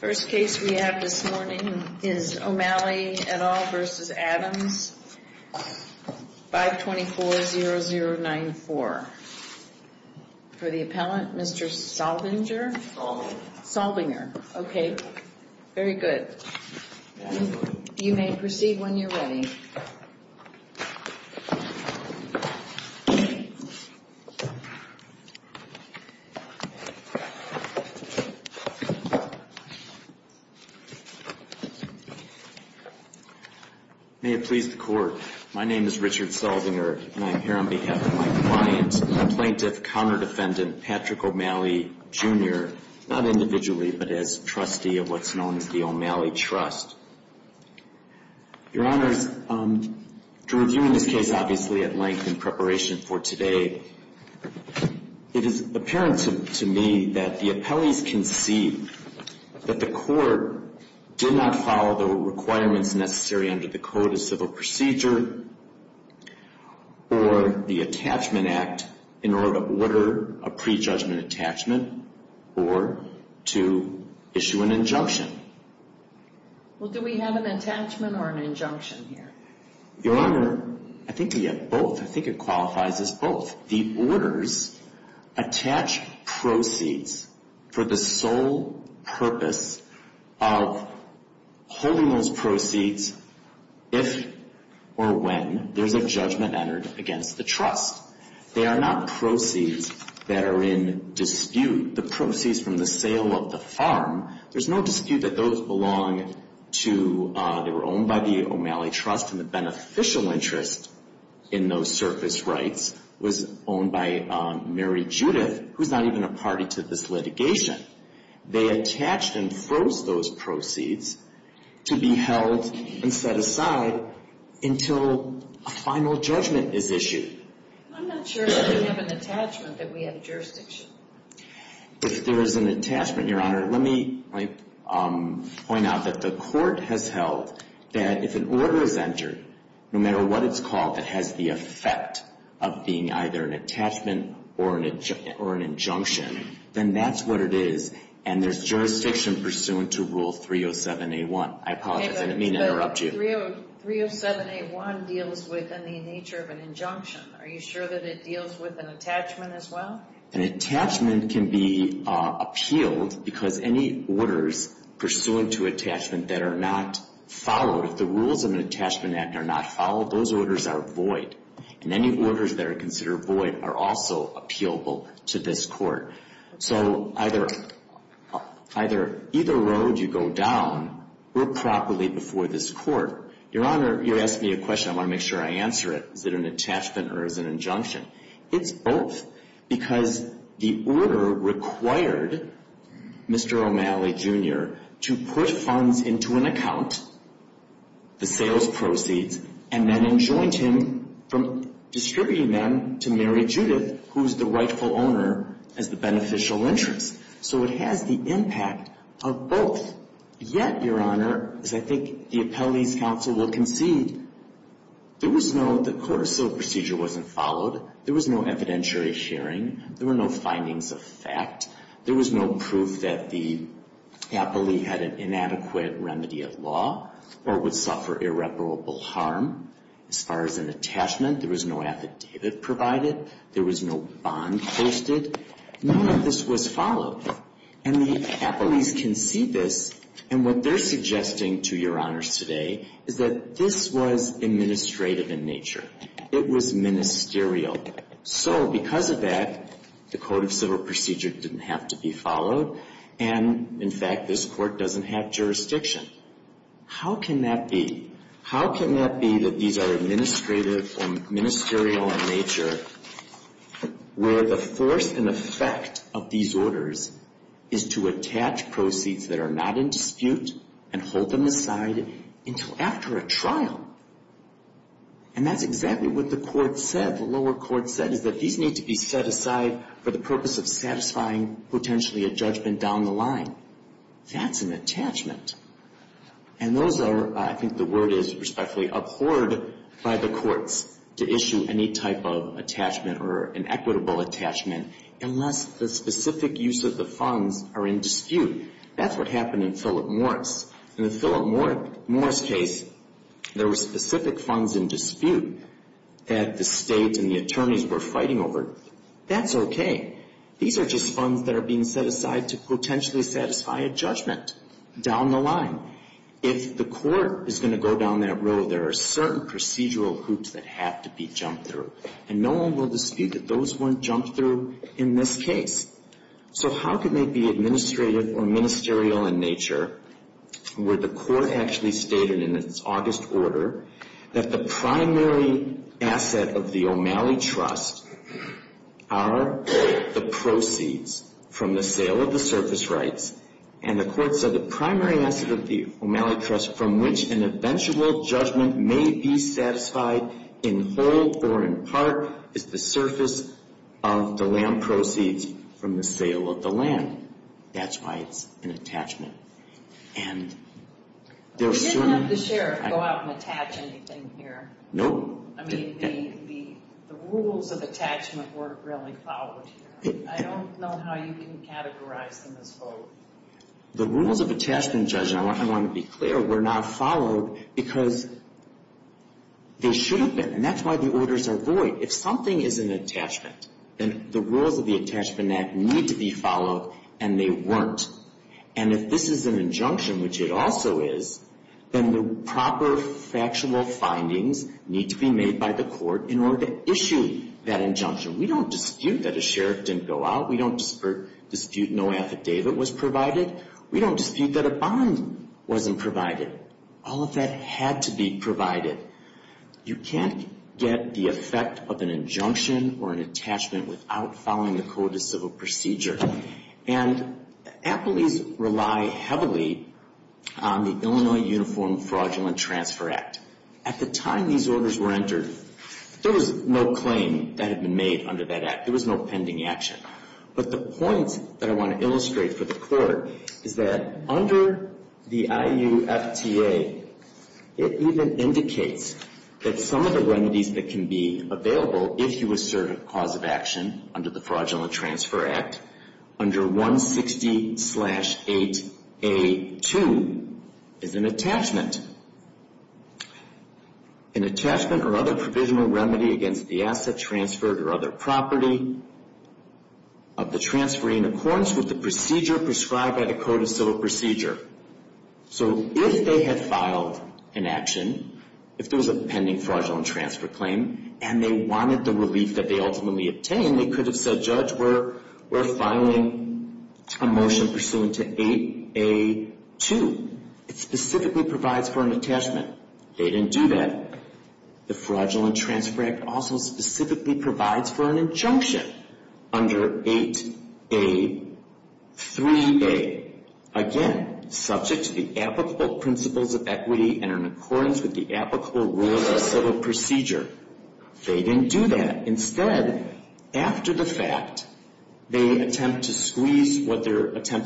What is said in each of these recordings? First case we have this morning is O'Malley v. Adams, 524-0094. For the appellant, Mr. Solvinger. Okay, very good. You may proceed when you're ready. May it please the Court, my name is Richard Solvinger and I'm here on behalf of my client, a plaintiff, counter-defendant, Patrick O'Malley, Jr., not individually, but as trustee of what's known as the O'Malley Trust. Your Honors, to review in this case, obviously, at length in preparation for today, it is apparent to me that the appellees concede that the Court did not follow the requirements necessary under the Code of Civil Procedure or the Attachment to an Act in order to order a pre-judgment attachment or to issue an injunction. Well, do we have an attachment or an injunction here? Your Honor, I think we have both. I think it qualifies as both. The orders attach proceeds for the sole purpose of holding those proceeds if or when there's a judgment entered against the trust. They are not proceeds that are in dispute. The proceeds from the sale of the farm, there's no dispute that those belong to, they were owned by the O'Malley Trust and the beneficial interest in those surface rights was owned by Mary Judith, who's not even a party to this litigation. They attached and froze those proceeds to be held and set aside until a final judgment is issued. I'm not sure if we have an attachment that we have jurisdiction. If there is an attachment, Your Honor, let me point out that the Court has held that if an order is entered, no matter what it's called, that has the effect of being either an attachment or an injunction, then that's what it is and there's jurisdiction pursuant to Rule 307A1. I apologize, I didn't mean to interrupt you. Rule 307A1 deals with the nature of an injunction. Are you sure that it deals with an attachment as well? An attachment can be appealed because any orders pursuant to attachment that are not followed, if the rules of an attachment act are not followed, those orders are void. And any orders that are considered void are also appealable to this Court. So either either road you go down, we're properly before this Court. Your Honor, you asked me a question. I want to make sure I answer it. Is it an attachment or is it an injunction? It's both because the order required Mr. O'Malley, Jr. to put funds into an account, the sales proceeds, and then enjoined him from distributing them to Mary Judith, who's the rightful owner, as the beneficial interest. So it has the both. Yet, Your Honor, as I think the appellee's counsel will concede, there was no the court of civil procedure wasn't followed. There was no evidentiary hearing. There were no findings of fact. There was no proof that the appellee had an inadequate remedy of law or would suffer irreparable harm. As far as an attachment, there was no affidavit provided. There was no bond posted. None of this was followed. And the appellees can see this. And what they're suggesting to Your Honors today is that this was administrative in nature. It was ministerial. So because of that, the court of civil procedure didn't have to be followed. And, in fact, this Court doesn't have jurisdiction. How can that be? How can that be that these are administrative or ministerial in nature where the first and effect of these orders is to attach proceeds that are not in dispute and hold them aside until after a trial? And that's exactly what the court said, the lower court said, is that these need to be set aside for the purpose of satisfying potentially a judgment down the line. That's an attachment. And those are, I think the word is respectfully abhorred by the courts to issue any type of attachment or an equitable attachment unless the specific use of the funds are in dispute. That's what happened in Philip Morris. In the Philip Morris case, there were specific funds in dispute that the state and the attorneys were fighting over. That's okay. These are just funds that are being set aside to potentially satisfy a judgment down the line. If the court is going to go down that road, there are certain procedural hoops that have to be jumped through. And no one will dispute that those weren't jumped through in this case. So how can they be administrative or ministerial in nature where the court actually stated in its August order that the primary asset of the O'Malley Trust are the proceeds from the sale of the surface rights. And the court said the primary asset of the O'Malley Trust from which an eventual judgment may be satisfied in whole or in part is the surface of the land proceeds from the sale of the land. That's why it's an attachment. And there are certain... The rules of attachment weren't really followed. I don't know how you can categorize them as both. The rules of attachment, Judge, and I want to be clear, were not followed because they should have been. And that's why the orders are void. If something is an attachment, then the rules of the attachment act need to be followed, and they weren't. And if this is an injunction, which it also is, then the court can issue that injunction. We don't dispute that a sheriff didn't go out. We don't dispute no affidavit was provided. We don't dispute that a bond wasn't provided. All of that had to be provided. You can't get the effect of an injunction or an attachment without following the code of civil procedure. And appellees rely heavily on the Illinois Uniform Fraudulent Transfer Act. At the time these orders were entered, there was no claim that had been made under that act. There was no pending action. But the point that I want to illustrate for the court is that under the IUFTA, it even indicates that some of the remedies that can be available if you assert a cause of action under the Fraudulent Transfer Act is an attachment. An attachment or other provisional remedy against the asset transferred or other property of the transferee in accordance with the procedure prescribed by the code of civil procedure. So if they had filed an action, if there was a pending fraudulent transfer claim, and they wanted the relief that they ultimately obtained, they could have said, Judge, we're filing a motion pursuant to 8A2. It's specifically provides for an attachment. They didn't do that. The Fraudulent Transfer Act also specifically provides for an injunction under 8A3A. Again, subject to the applicable principles of equity and in accordance with the applicable rules of civil procedure. They didn't do that. Instead, after the fact, they attempt to squeeze what they're saying,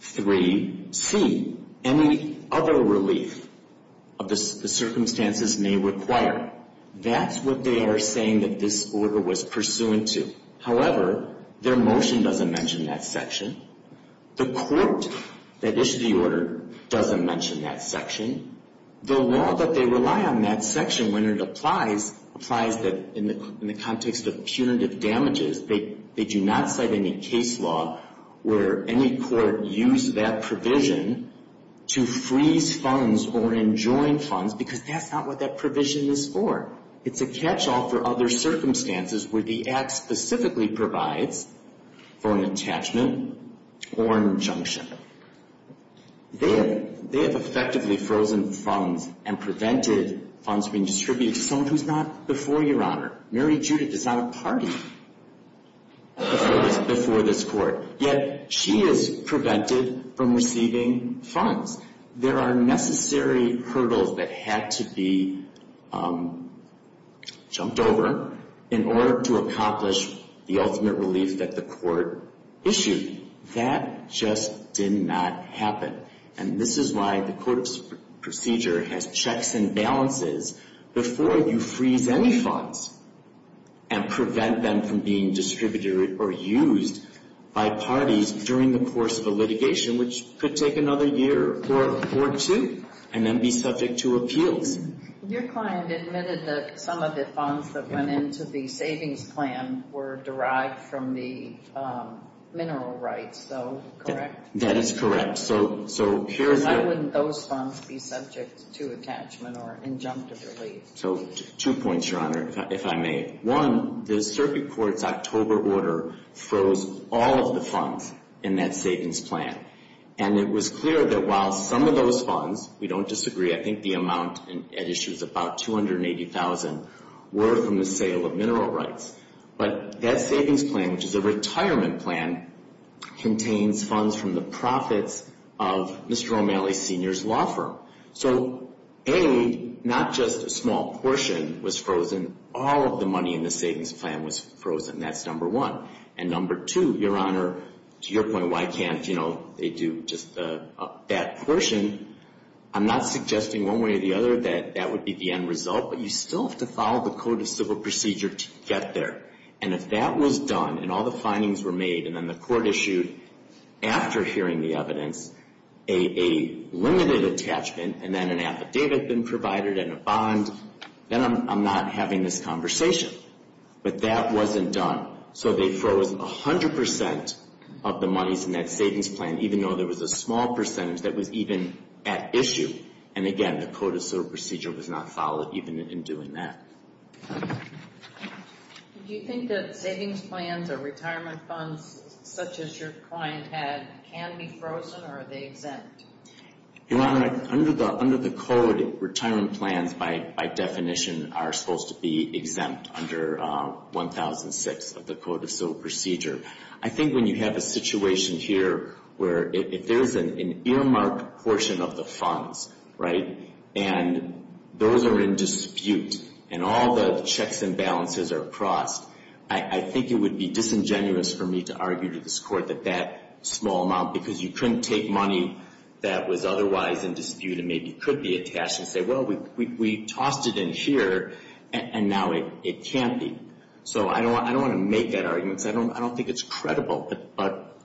8A3C, any other relief of the circumstances may require. That's what they are saying that this order was pursuant to. However, their motion doesn't mention that section. The court that issued the order doesn't mention that section. The law that they rely on that section, when it applies, applies in the context of punitive damages. They do not cite any case law where any court used that provision to freeze funds or enjoin funds because that's not what that provision is for. It's a catchall for other circumstances where the act specifically provides for an attachment or injunction. They have effectively frozen funds and prevented funds being distributed to someone who's not before Your Honor. Mary Judith is not a party before this court, yet she is prevented from receiving funds. There are necessary hurdles that had to be jumped over in order to accomplish the ultimate relief that the court issued. That just did not happen. And this is why the court procedure has checks and balances before you freeze any funds and prevent them from being distributed or used by parties during the course of a litigation, which could take another year or two and then be subject to appeals. Your client admitted that some of the funds that went into the savings plan were derived from the mineral rights, though, correct? That is correct. Why wouldn't those funds be subject to attachment or injunctive relief? Two points, Your Honor, if I may. One, the circuit court's October order froze all of the funds in that savings plan. And it was clear that while some of those funds, we don't disagree, I think the amount at issue is about $280,000 were from the sale of mineral rights. But that savings plan, which is a retirement plan, contains funds from the profits of Mr. Romali Sr.'s law firm. So, A, not just a small portion was frozen. All of the money in the savings plan was frozen. That's number one. And number two, Your Honor, to your point, why can't, you know, they do just that portion, I'm not suggesting one way or the other that that would be the end result. But you still have to follow the Code of Civil Procedure to get there. And if that was done and all the findings were made and then the court issued, after hearing the evidence, a limited attachment and then an affidavit been provided and a bond, then I'm not having this conversation. But that wasn't done. So they froze 100 percent of the monies in that savings plan, even though there was a small percentage that was even at issue. And again, the Code of Civil Procedure was not involved in doing that. Do you think that savings plans or retirement funds, such as your client had, can be frozen or are they exempt? Your Honor, under the Code, retirement plans, by definition, are supposed to be exempt under 1006 of the Code of Civil Procedure. I think when you have a situation here where if there is an undermarked portion of the funds, right, and those are in dispute and all the checks and balances are crossed, I think it would be disingenuous for me to argue to this Court that that small amount, because you couldn't take money that was otherwise in dispute and maybe could be attached and say, well, we tossed it in here and now it can't be. So I don't want to make that argument. I don't think it's credible. But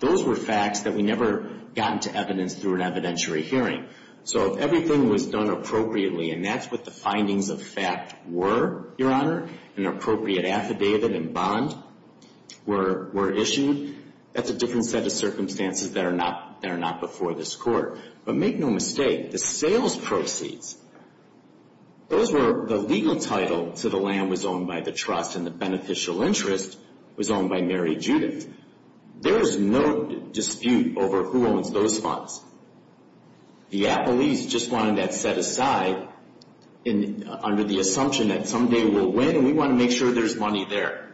those were facts that we never got into evidence through an evidentiary hearing. So if everything was done appropriately and that's what the findings of fact were, Your Honor, an appropriate affidavit and bond were issued, that's a different set of circumstances that are not before this Court. But make no mistake, the sales proceeds, those were the legal title to the land that was owned by the trust and the beneficial interest was owned by Mary Judith. There is no dispute over who owns those funds. The appellees just wanted that set aside under the assumption that someday we'll win and we want to make sure there's money there.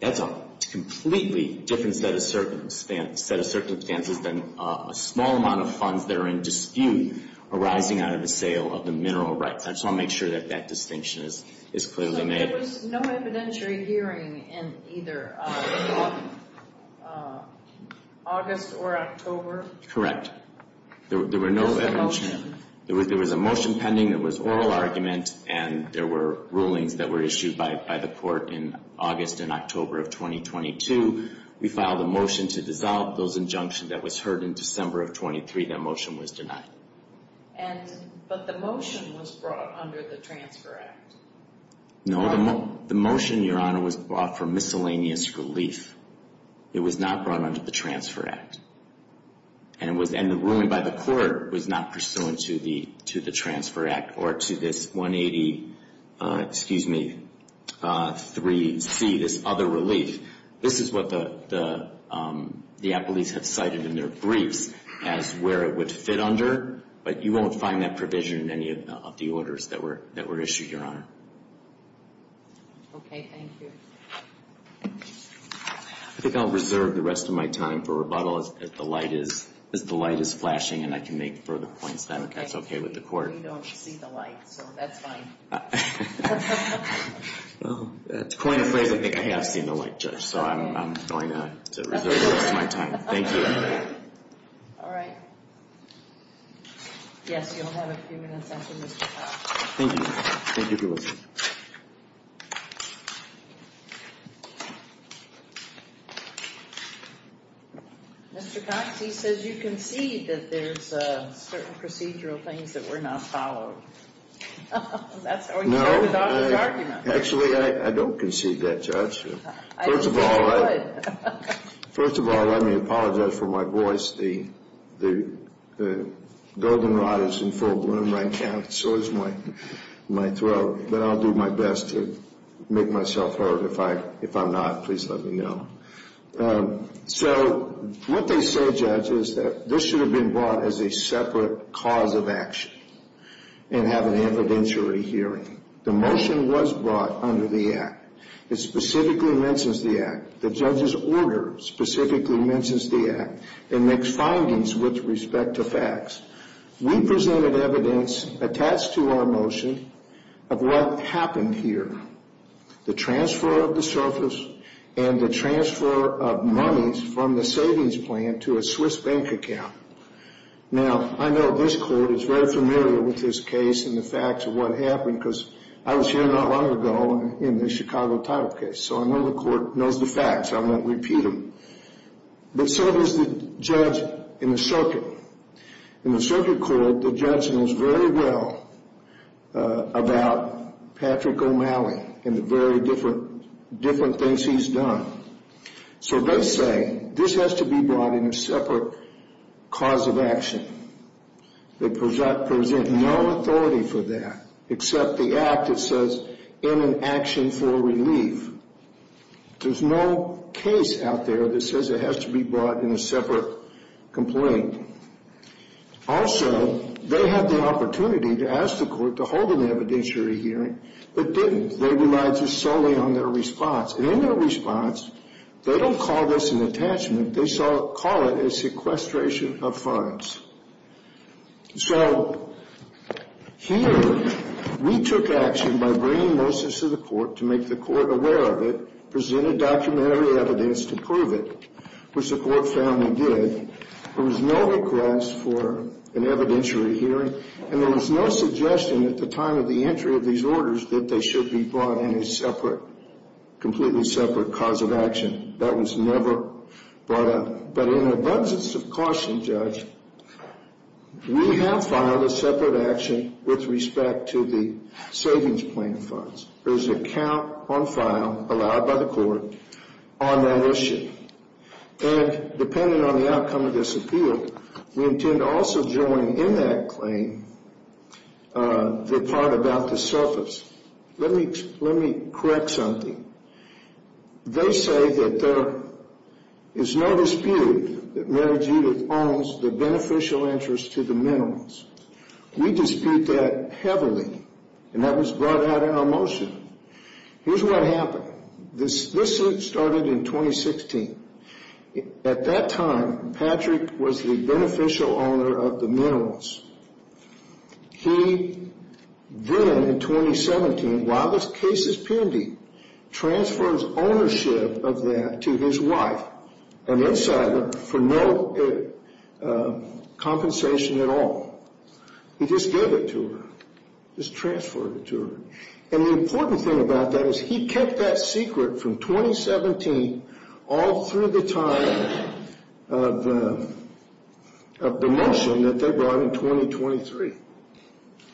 That's a completely different set of circumstances than a small amount of funds that are in dispute arising out of the sale of the mineral rights. So I'll make sure that that distinction is clearly made. There was no evidentiary hearing in either August or October? Correct. There was a motion pending that was oral argument and there were rulings that were issued by the Court in August and October of 2022. We filed a motion to dissolve those injunctions that was heard in December of 23. That motion was denied. But the motion was brought under the Transfer Act. No, the motion, Your Honor, was brought for miscellaneous relief. It was not brought under the Transfer Act. And the ruling by the Court was not pursuant to the Transfer Act or to this 183C, this other relief. This is what the appellees have cited in their briefs as where it would fit under. But you won't find that provision in any of the orders that were issued, Your Honor. Okay. Thank you. I think I'll reserve the rest of my time for rebuttal as the light is flashing and I can make further points then if that's okay with the Court. We don't see the light, so that's fine. To coin a phrase, I think I have seen the light, Judge, so I'm going to reserve the rest of my time. Thank you. All right. Yes, you'll have a few minutes after Mr. Cox. Thank you. Thank you for listening. Mr. Cox, he says you concede that there's certain procedural things that were not followed. No. Actually, I don't concede that, Judge. First of all, let me apologize for my voice. The golden rod is in full bloom. I can't, it sores my throat, but I'll do my best to make myself heard. If I'm not, please let me know. So what they say, Judge, is that this should have been brought as a separate cause of action and have an evidentiary hearing. The motion was brought under the Act. It specifically mentions the Act. The judge's order specifically mentions the Act. It makes findings with respect to facts. We presented evidence attached to our motion of what happened here, the transfer of the surface and the transfer of monies from the savings plan to a Swiss bank account. Now, I know this court is very familiar with this case and the facts of what happened, because I was here not long ago in the Chicago title case, so I know the court knows the facts. I won't repeat them. But so does the judge in the circuit. In the circuit court, the judge knows very well about Patrick O'Malley and the very different things he's done. So they say this has to be brought in a separate cause of action. They present no authority for that except the Act that says in an action for relief. There's no case out there that says it has to be brought in a separate complaint. Also, they have the opportunity to ask the court to hold an evidentiary hearing, but didn't. They relied just solely on their response. And in their response, they don't call this an attachment. They call it a sequestration of funds. So here we took action by bringing Moses to the court to make the court aware of it, presented documentary evidence to prove it, which the court found they did. There was no request for an evidentiary hearing, and there was no suggestion at the time of the entry of these orders that they should be brought in a separate, completely separate cause of action. But in an abundance of caution, Judge, we have filed a separate action with respect to the savings plan funds. There's an account on file, allowed by the court, on that issue. And depending on the outcome of this appeal, we intend to also join in that claim the part about the surplus. Let me correct something. They say that there is no dispute that Mary Judith owns the beneficial interest to the minerals. We dispute that heavily, and that was brought out in our motion. Here's what happened. This suit started in 2016. At that time, Patrick was the beneficial owner of the minerals. He then, in 2017, while this case is pending, he transfers ownership of that to his wife, an insider, for no compensation at all. He just gave it to her, just transferred it to her. And the important thing about that is he kept that secret from 2017 all through the time of the motion that they brought in 2023.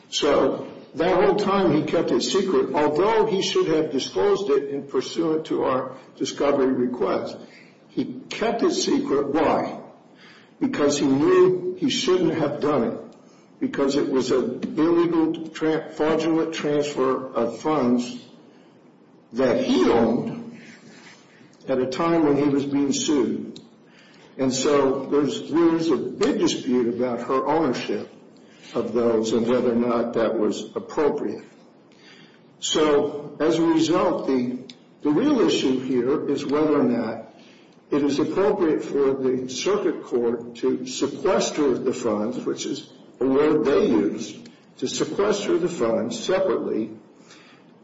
So that whole time he kept it secret, although he should have disclosed it in pursuant to our discovery request. He kept it secret. Why? Because he knew he shouldn't have done it. Because it was an illegal, fraudulent transfer of funds that he owned at a time when he was being sued. And so there's a big dispute about her ownership of those and whether or not that was appropriate. As a result, the real issue here is whether or not it is appropriate for the circuit court to sequester the funds, which is a word they use, to sequester the funds separately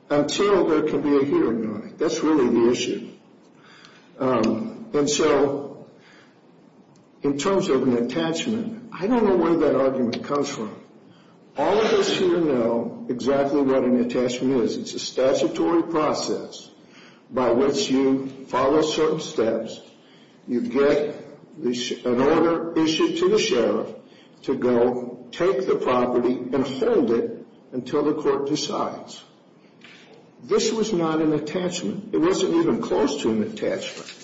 until there can be a hearing on it. That's really the issue. In terms of an attachment, I don't know where that argument comes from. All of us here know exactly what an attachment is. It's a statutory process by which you follow certain steps. You get an order issued to the sheriff to go take the property and hold it until the court decides. This was not an attachment. It wasn't even close to an attachment.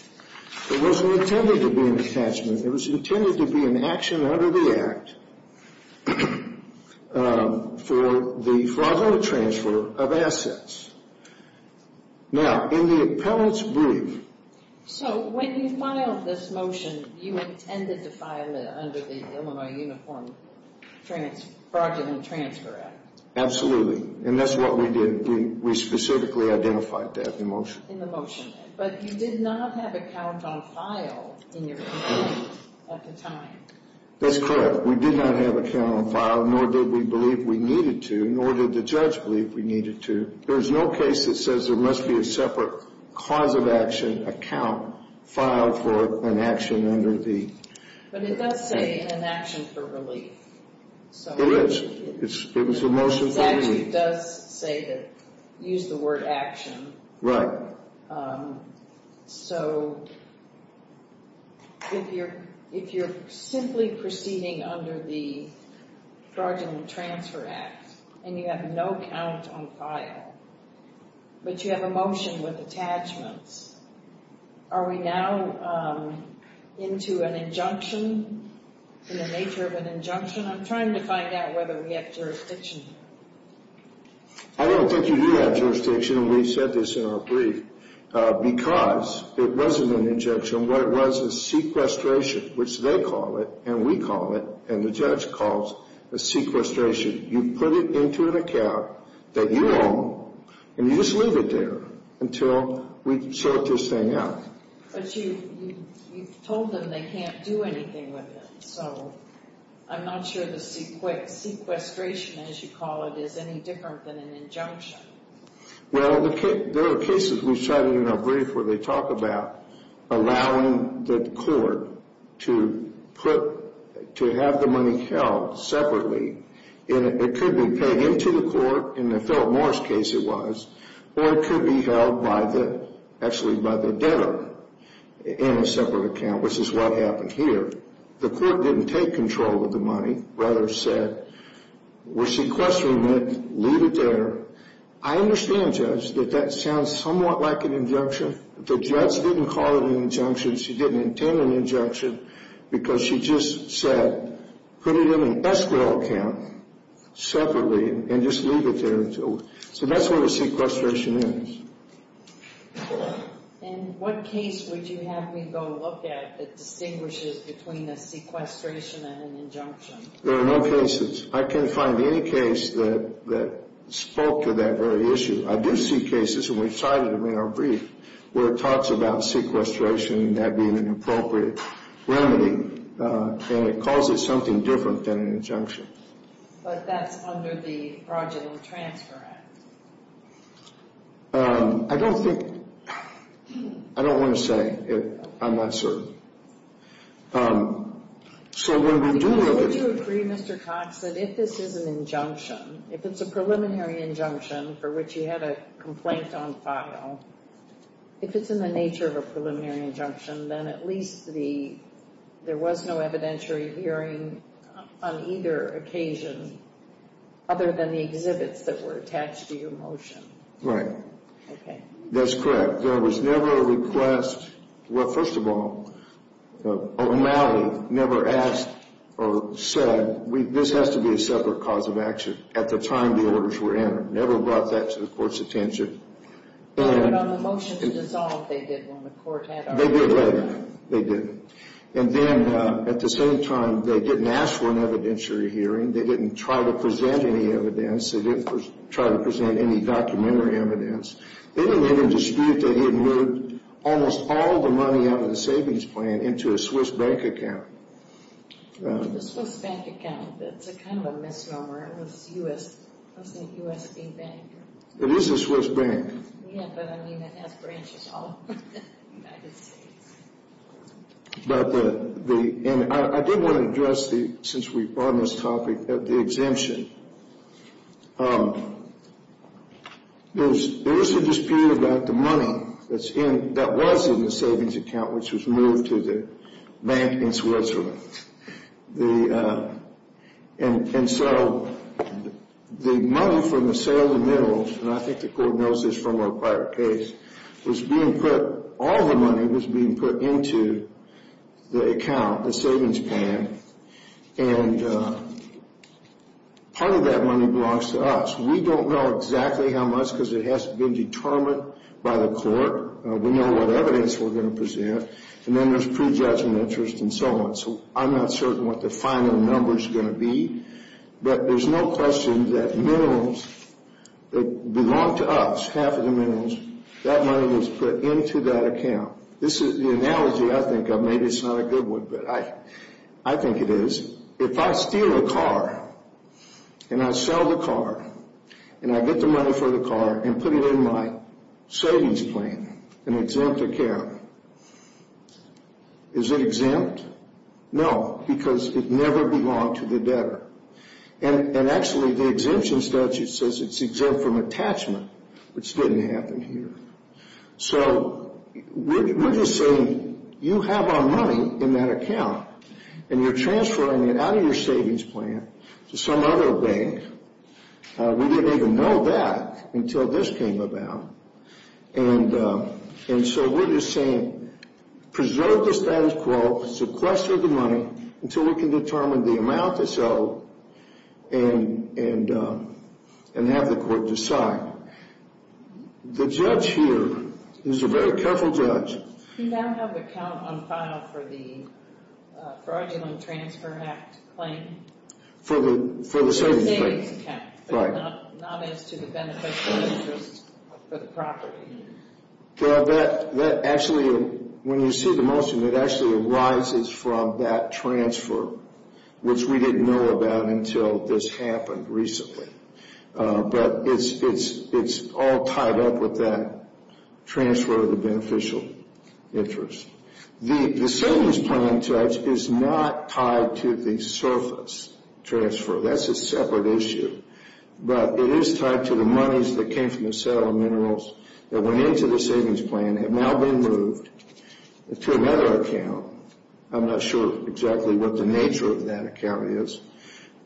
It wasn't intended to be an attachment. It was intended to be an action under the Act for the fraudulent transfer of assets. Now, in the appellant's brief... Absolutely. And that's what we did. We specifically identified that in the motion. That's correct. We did not have a count on file, nor did we believe we needed to, nor did the judge believe we needed to. There's no case that says there must be a separate cause of action account filed for an action under the... But it does say an action for relief. It is. It's a motion for relief. It actually does say that, use the word action. Right. If you're simply proceeding under the Fraudulent Transfer Act, and you have no count on file, but you have a motion with attachments, are we now into an injunction in the nature of an injunction? I'm trying to find out whether we have jurisdiction. I don't think you do have jurisdiction, and we've said this in our brief, because it wasn't an injunction. What it was is sequestration, which they call it, and we call it, and the judge calls it sequestration. You put it into an account that you own, and you just leave it there until we sort this thing out. But you told them they can't do anything with it, so I'm not sure the sequestration, as you call it, is any different than an injunction. Well, there are cases we've cited in our brief where they talk about allowing the court to put, to have the money held separately, and it could be paid into the court, in the Philip Morris case it was, or it could be held by the, actually by the debtor in a separate account, which is what happened here. The court didn't take control of the money, rather said, we're sequestering it, leave it there. I understand, Judge, that that sounds somewhat like an injunction. The judge didn't call it an injunction, she didn't intend an injunction, because she just said put it in an escrow account, separately, and just leave it there until, so that's what a sequestration is. In what case would you have me go look at that distinguishes between a sequestration and an injunction? There are no cases. I can't find any case that spoke to that very issue. I do see cases, and we've cited them in our brief, where it talks about sequestration and that being an appropriate remedy, and it calls it something different than an injunction. But that's under the fraudulent transfer act. I don't think, I don't want to say I'm not certain. Would you agree, Mr. Cox, that if this is an injunction, if it's a preliminary injunction, for which you had a complaint on file, if it's in the nature of a preliminary injunction, then at least there was no evidentiary hearing on either occasion, other than the exhibits that were attached to your motion. Right. That's correct. There was never a request, well, first of all, O'Malley never asked or said, this has to be a separate cause of action at the time the orders were entered. Never brought that to the court's attention. But on the motion to dissolve, they did when the court had our motion. They did. And then, at the same time, they didn't ask for an evidentiary evidence. They didn't even dispute that he had moved almost all the money out of the savings plan into a Swiss bank account. The Swiss bank account, that's kind of a misnomer. It was U.S., wasn't it U.S.B. Bank? It is a Swiss bank. Yeah, but, I mean, it has branches all over the United States. But the, and I did want to address the, since we're on this topic, the exemption. There is a dispute about the money that's in, that was in the savings account, which was moved to the bank in Switzerland. And so the money from the sale of the minerals, and I think the court knows this from our prior case, was being put, all the money was being put into the account, the savings plan. And part of that money belongs to us. We don't know exactly how much because it has to be determined by the court. We know what evidence we're going to present. And then there's prejudgment interest and so on. So I'm not certain what the final number's going to be. But there's no question that minerals, that belonged to us, half of the minerals, that money was put into that account. This is the analogy I think of. Maybe it's not a good one, but I think it is. If I steal a car and I sell the car and I get the money for the car and put it in my savings plan, an exempt account, is it exempt? No, because it never belonged to the debtor. And actually the exemption statute says it's exempt from attachment, which didn't happen here. So we're just saying you have our money in that account and you're transferring it out of your savings plan to some other bank. We didn't even know that until this came about. And so we're just saying preserve the status quo, sequester the money until we can determine the amount to sell and have the court decide. The judge here is a very careful judge. He doesn't have an account on file for the Fraudulent Transfer Act claim? For the savings plan? For the savings account, but not as to the beneficial interest for the property? When you see the motion, it actually arises from that transfer, which we didn't know about until this happened recently. But it's all tied up with that transfer of the beneficial interest. The savings plan, Judge, is not tied to the surface transfer. That's a separate issue. But it is tied to the monies that came from the sale of minerals that went into the savings plan have now been moved to another account. I'm not sure exactly what the nature of that account is,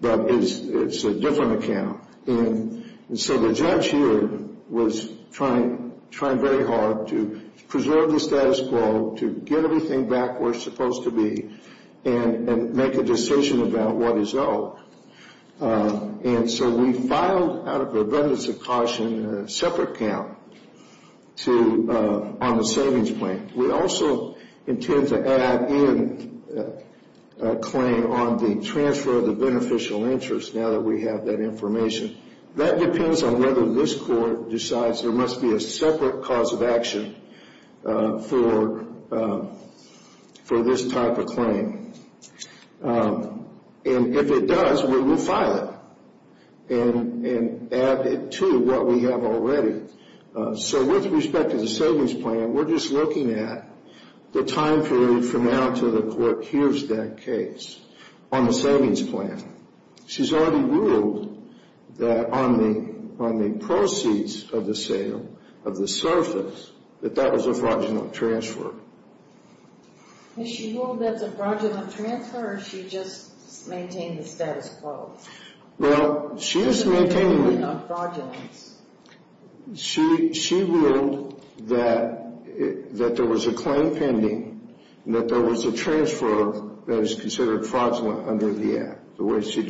but it's a different account. And so the judge here was trying very hard to preserve the status quo, to preserve the status quo. And so we filed, out of preventative caution, a separate account on the savings plan. We also intend to add in a claim on the transfer of the beneficial interest, now that we have that information. That depends on whether this court decides there must be a separate cause of action for this type of claim. And if it does, we will file it and add it to what we have already. So with respect to the savings plan, we're just looking at the time period from now until the court hears that case on the savings plan. She's already ruled that on the proceeds of the sale of the service, that that was a fraudulent transfer. Has she ruled that it's a fraudulent transfer or has she just maintained the status quo? She ruled that there was a claim pending and that there was a transfer that is a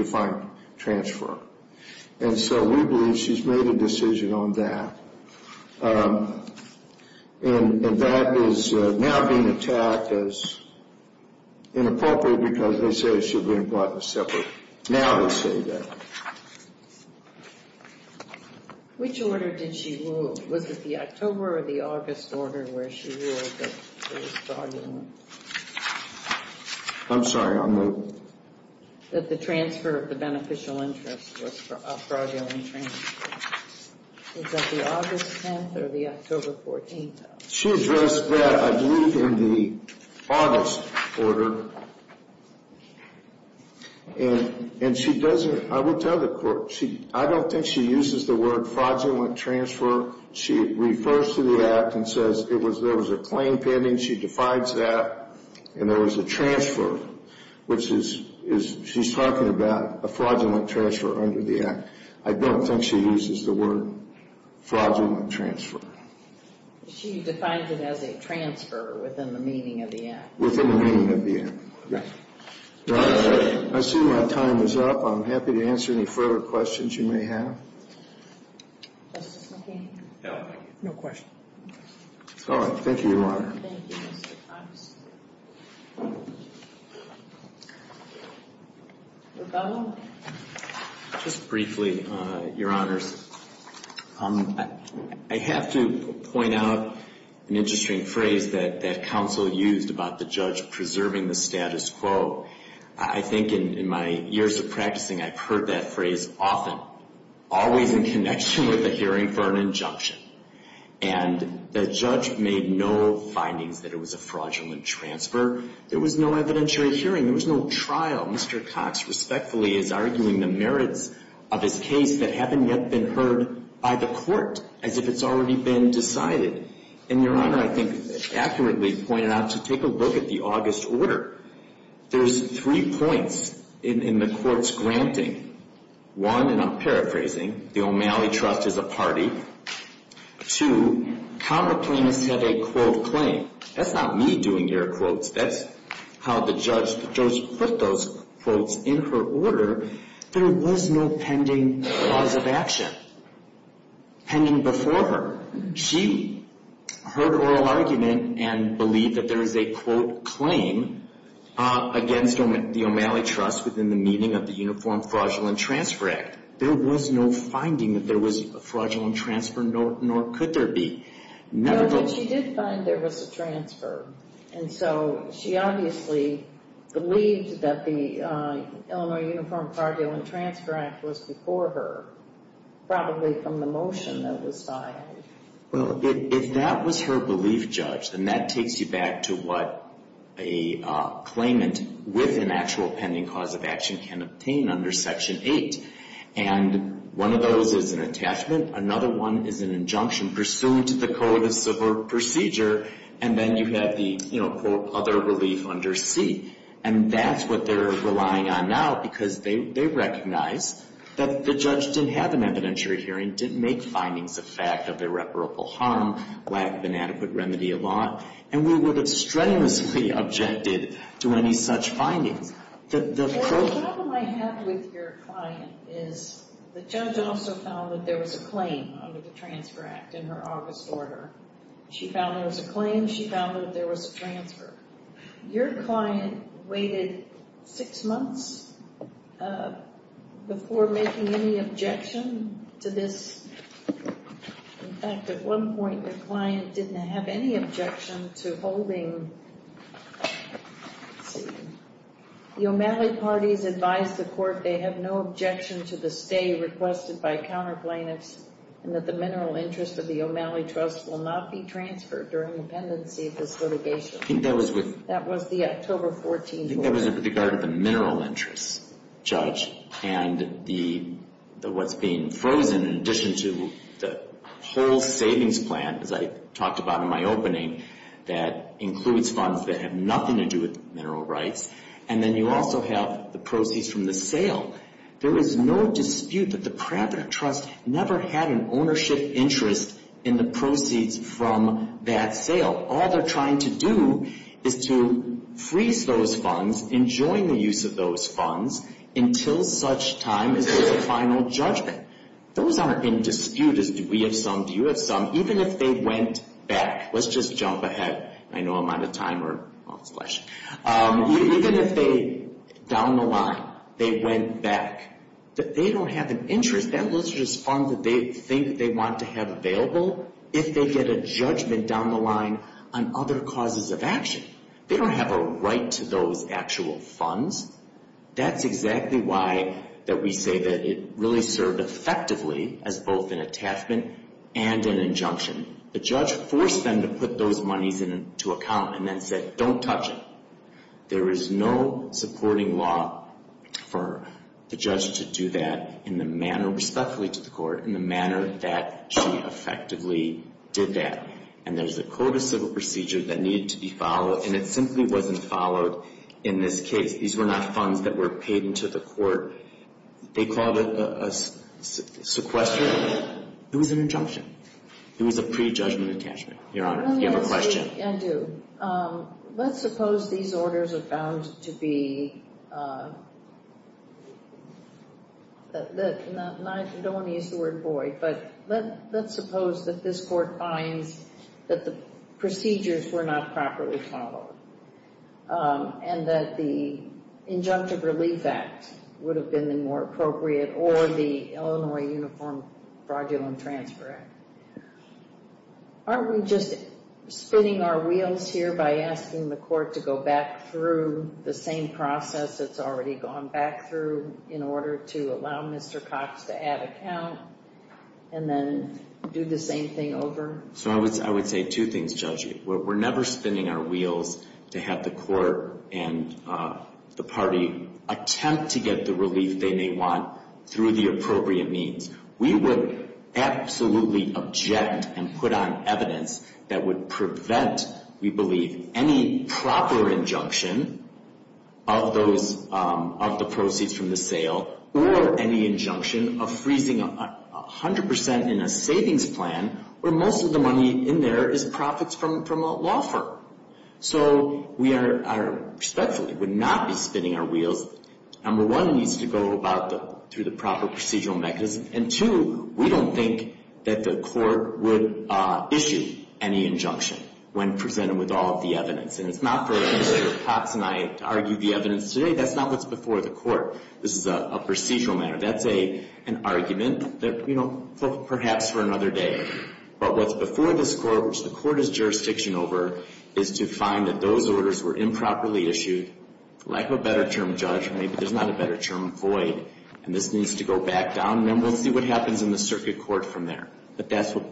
fraudulent transfer. So we believe she's made a decision on that. And that is now being attacked as inappropriate because they say it should be implied as separate. Now they say that. Which order did she rule? Was it the October or the August order where she ruled that it was fraudulent? I'm sorry, I'll move. That the transfer of the beneficial interest was a fraudulent transfer. Was that the August 10th or the October 14th? She addressed that, I believe, in the August order. And she doesn't, I will tell the court, I don't think she uses the word fraudulent transfer. She refers to the Act and says there was a claim pending. She defines that and there was a transfer, which is, she's talking about a fraudulent transfer under the Act. I don't think she uses the word fraudulent transfer. She defines it as a transfer within the meaning of the Act. Within the meaning of the Act, yes. I see my time is up. I'm happy to answer any further questions you may have. No questions. Thank you, Your Honor. Just briefly, Your Honors. I have to point out an interesting phrase that counsel used about the judge preserving the status quo. I think in my years of practicing, I've heard that phrase often, always in connection with a hearing for an injunction. And the judge made no findings that it was a fraudulent transfer. There was no evidentiary hearing. There was no trial. Mr. Cox respectfully is arguing the merits of his case that haven't yet been heard by the court, as if it's already been decided. And Your Honor, I think, accurately pointed out to take a look at the August order. There's three points in the court's granting. One, and I'm paraphrasing, the O'Malley Trust is a party. Two, counter plaintiffs have a quote claim. That's not me doing your quotes. That's how the judge put those quotes in her order. There was no pending cause of action, pending before her. She heard oral argument and believed that there is a quote claim against the O'Malley Trust within the meaning of the Uniform Fraudulent Transfer Act. There was no finding that there was a fraudulent transfer, nor could there be. No, but she did find there was a transfer. And so she obviously believed that the Illinois Uniform Fraudulent Transfer Act was before her, probably from the motion that was filed. Well, if that was her belief, Judge, then that takes you back to what a claimant with an actual pending cause of action can obtain under Section 8. And one of those is an attachment. Another one is an injunction pursuant to the Code of Subvert Procedure, and then you have the other relief under C. And that's what they're relying on now, because they recognize that the judge didn't have an evidentiary hearing, didn't make findings of fact of irreparable harm, lack of an adequate remedy of law, and we would have strenuously objected to any such findings. The problem I have with your client is the judge also found that there was a claim under the Transfer Act in her August order. She found there was a claim. She found that there was a transfer. Your client waited six months before making any objection to this. In fact, at one point, the client didn't have any objection to holding the O'Malley parties advised the court they have no objection to the stay requested by counter plaintiffs and that the mineral interest of the O'Malley Trust will not be transferred during the pendency of this litigation. That was the October 14th order. I think that was with regard to the mineral interest, Judge, and what's being frozen in addition to the whole that have nothing to do with mineral rights, and then you also have the proceeds from the sale. There is no dispute that the private trust never had an ownership interest in the proceeds from that sale. All they're trying to do is to freeze those funds, enjoin the use of those funds, until such time as there's a final judgment. Those aren't in dispute as do we have some, do you have some, even if they went back. Let's just jump ahead. I know I'm out of time. Even if they, down the line, they went back, they don't have an interest. That literature is funds that they think they want to have available if they get a judgment down the line on other causes of action. They don't have a right to those actual funds. That's exactly why that we say that it really served effectively as both an attachment and an injunction. The judge forced them to put those monies into account and then said, don't touch it. There is no supporting law for the judge to do that in the manner, respectfully to the court, in the manner that she effectively did that. And there's a code of civil procedure that needed to be followed, and it simply wasn't followed in this case. These were not funds that were paid into the court. They called it a sequester. It was an injunction. It was a prejudgment attachment, Your Honor. Do you have a question? Let's suppose these orders are bound to be, I don't want to use the word void, but let's suppose that this court finds that the procedures were not properly followed and that the Injunctive Relief Act would have been the more appropriate or the Illinois Uniform Fraudulent Transfer Act. Aren't we just spinning our wheels here by asking the court to go back through the same process that's already gone back through in order to allow Mr. Cox to add account and then do the same thing over? So I would say two things, Judge. We're never spinning our wheels to have the court and the party attempt to get the relief they may want through the appropriate means. We would absolutely object and put on evidence that would prevent, we believe, any proper injunction of the proceeds from the sale or any injunction of freezing 100% in a savings plan where most of the money in there is profits from a law firm. So we respectfully would not be spinning our wheels. Number one, it needs to go through the proper procedural mechanism. And two, we don't think that the court would issue any injunction when presented with all of the evidence. And it's not for Mr. Cox and I to argue the evidence today. That's not what's before the court. This is a procedural matter. That's an argument that, you know, perhaps for another day. But what's before this court, which the court is jurisdiction over, is to find that those orders were improperly issued. Lack of a better term, Judge, maybe there's not a better term, void. And this needs to go back down and then we'll see what happens in the circuit court from there. But that's what's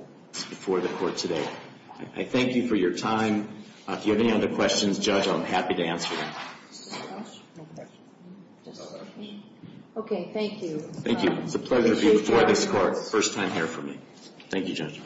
before the court today. I thank you for your time. If you have any other questions, Judge, I'm happy to answer them. Thank you. It's a pleasure to be before this court. First time here for me. Thank you, Judge.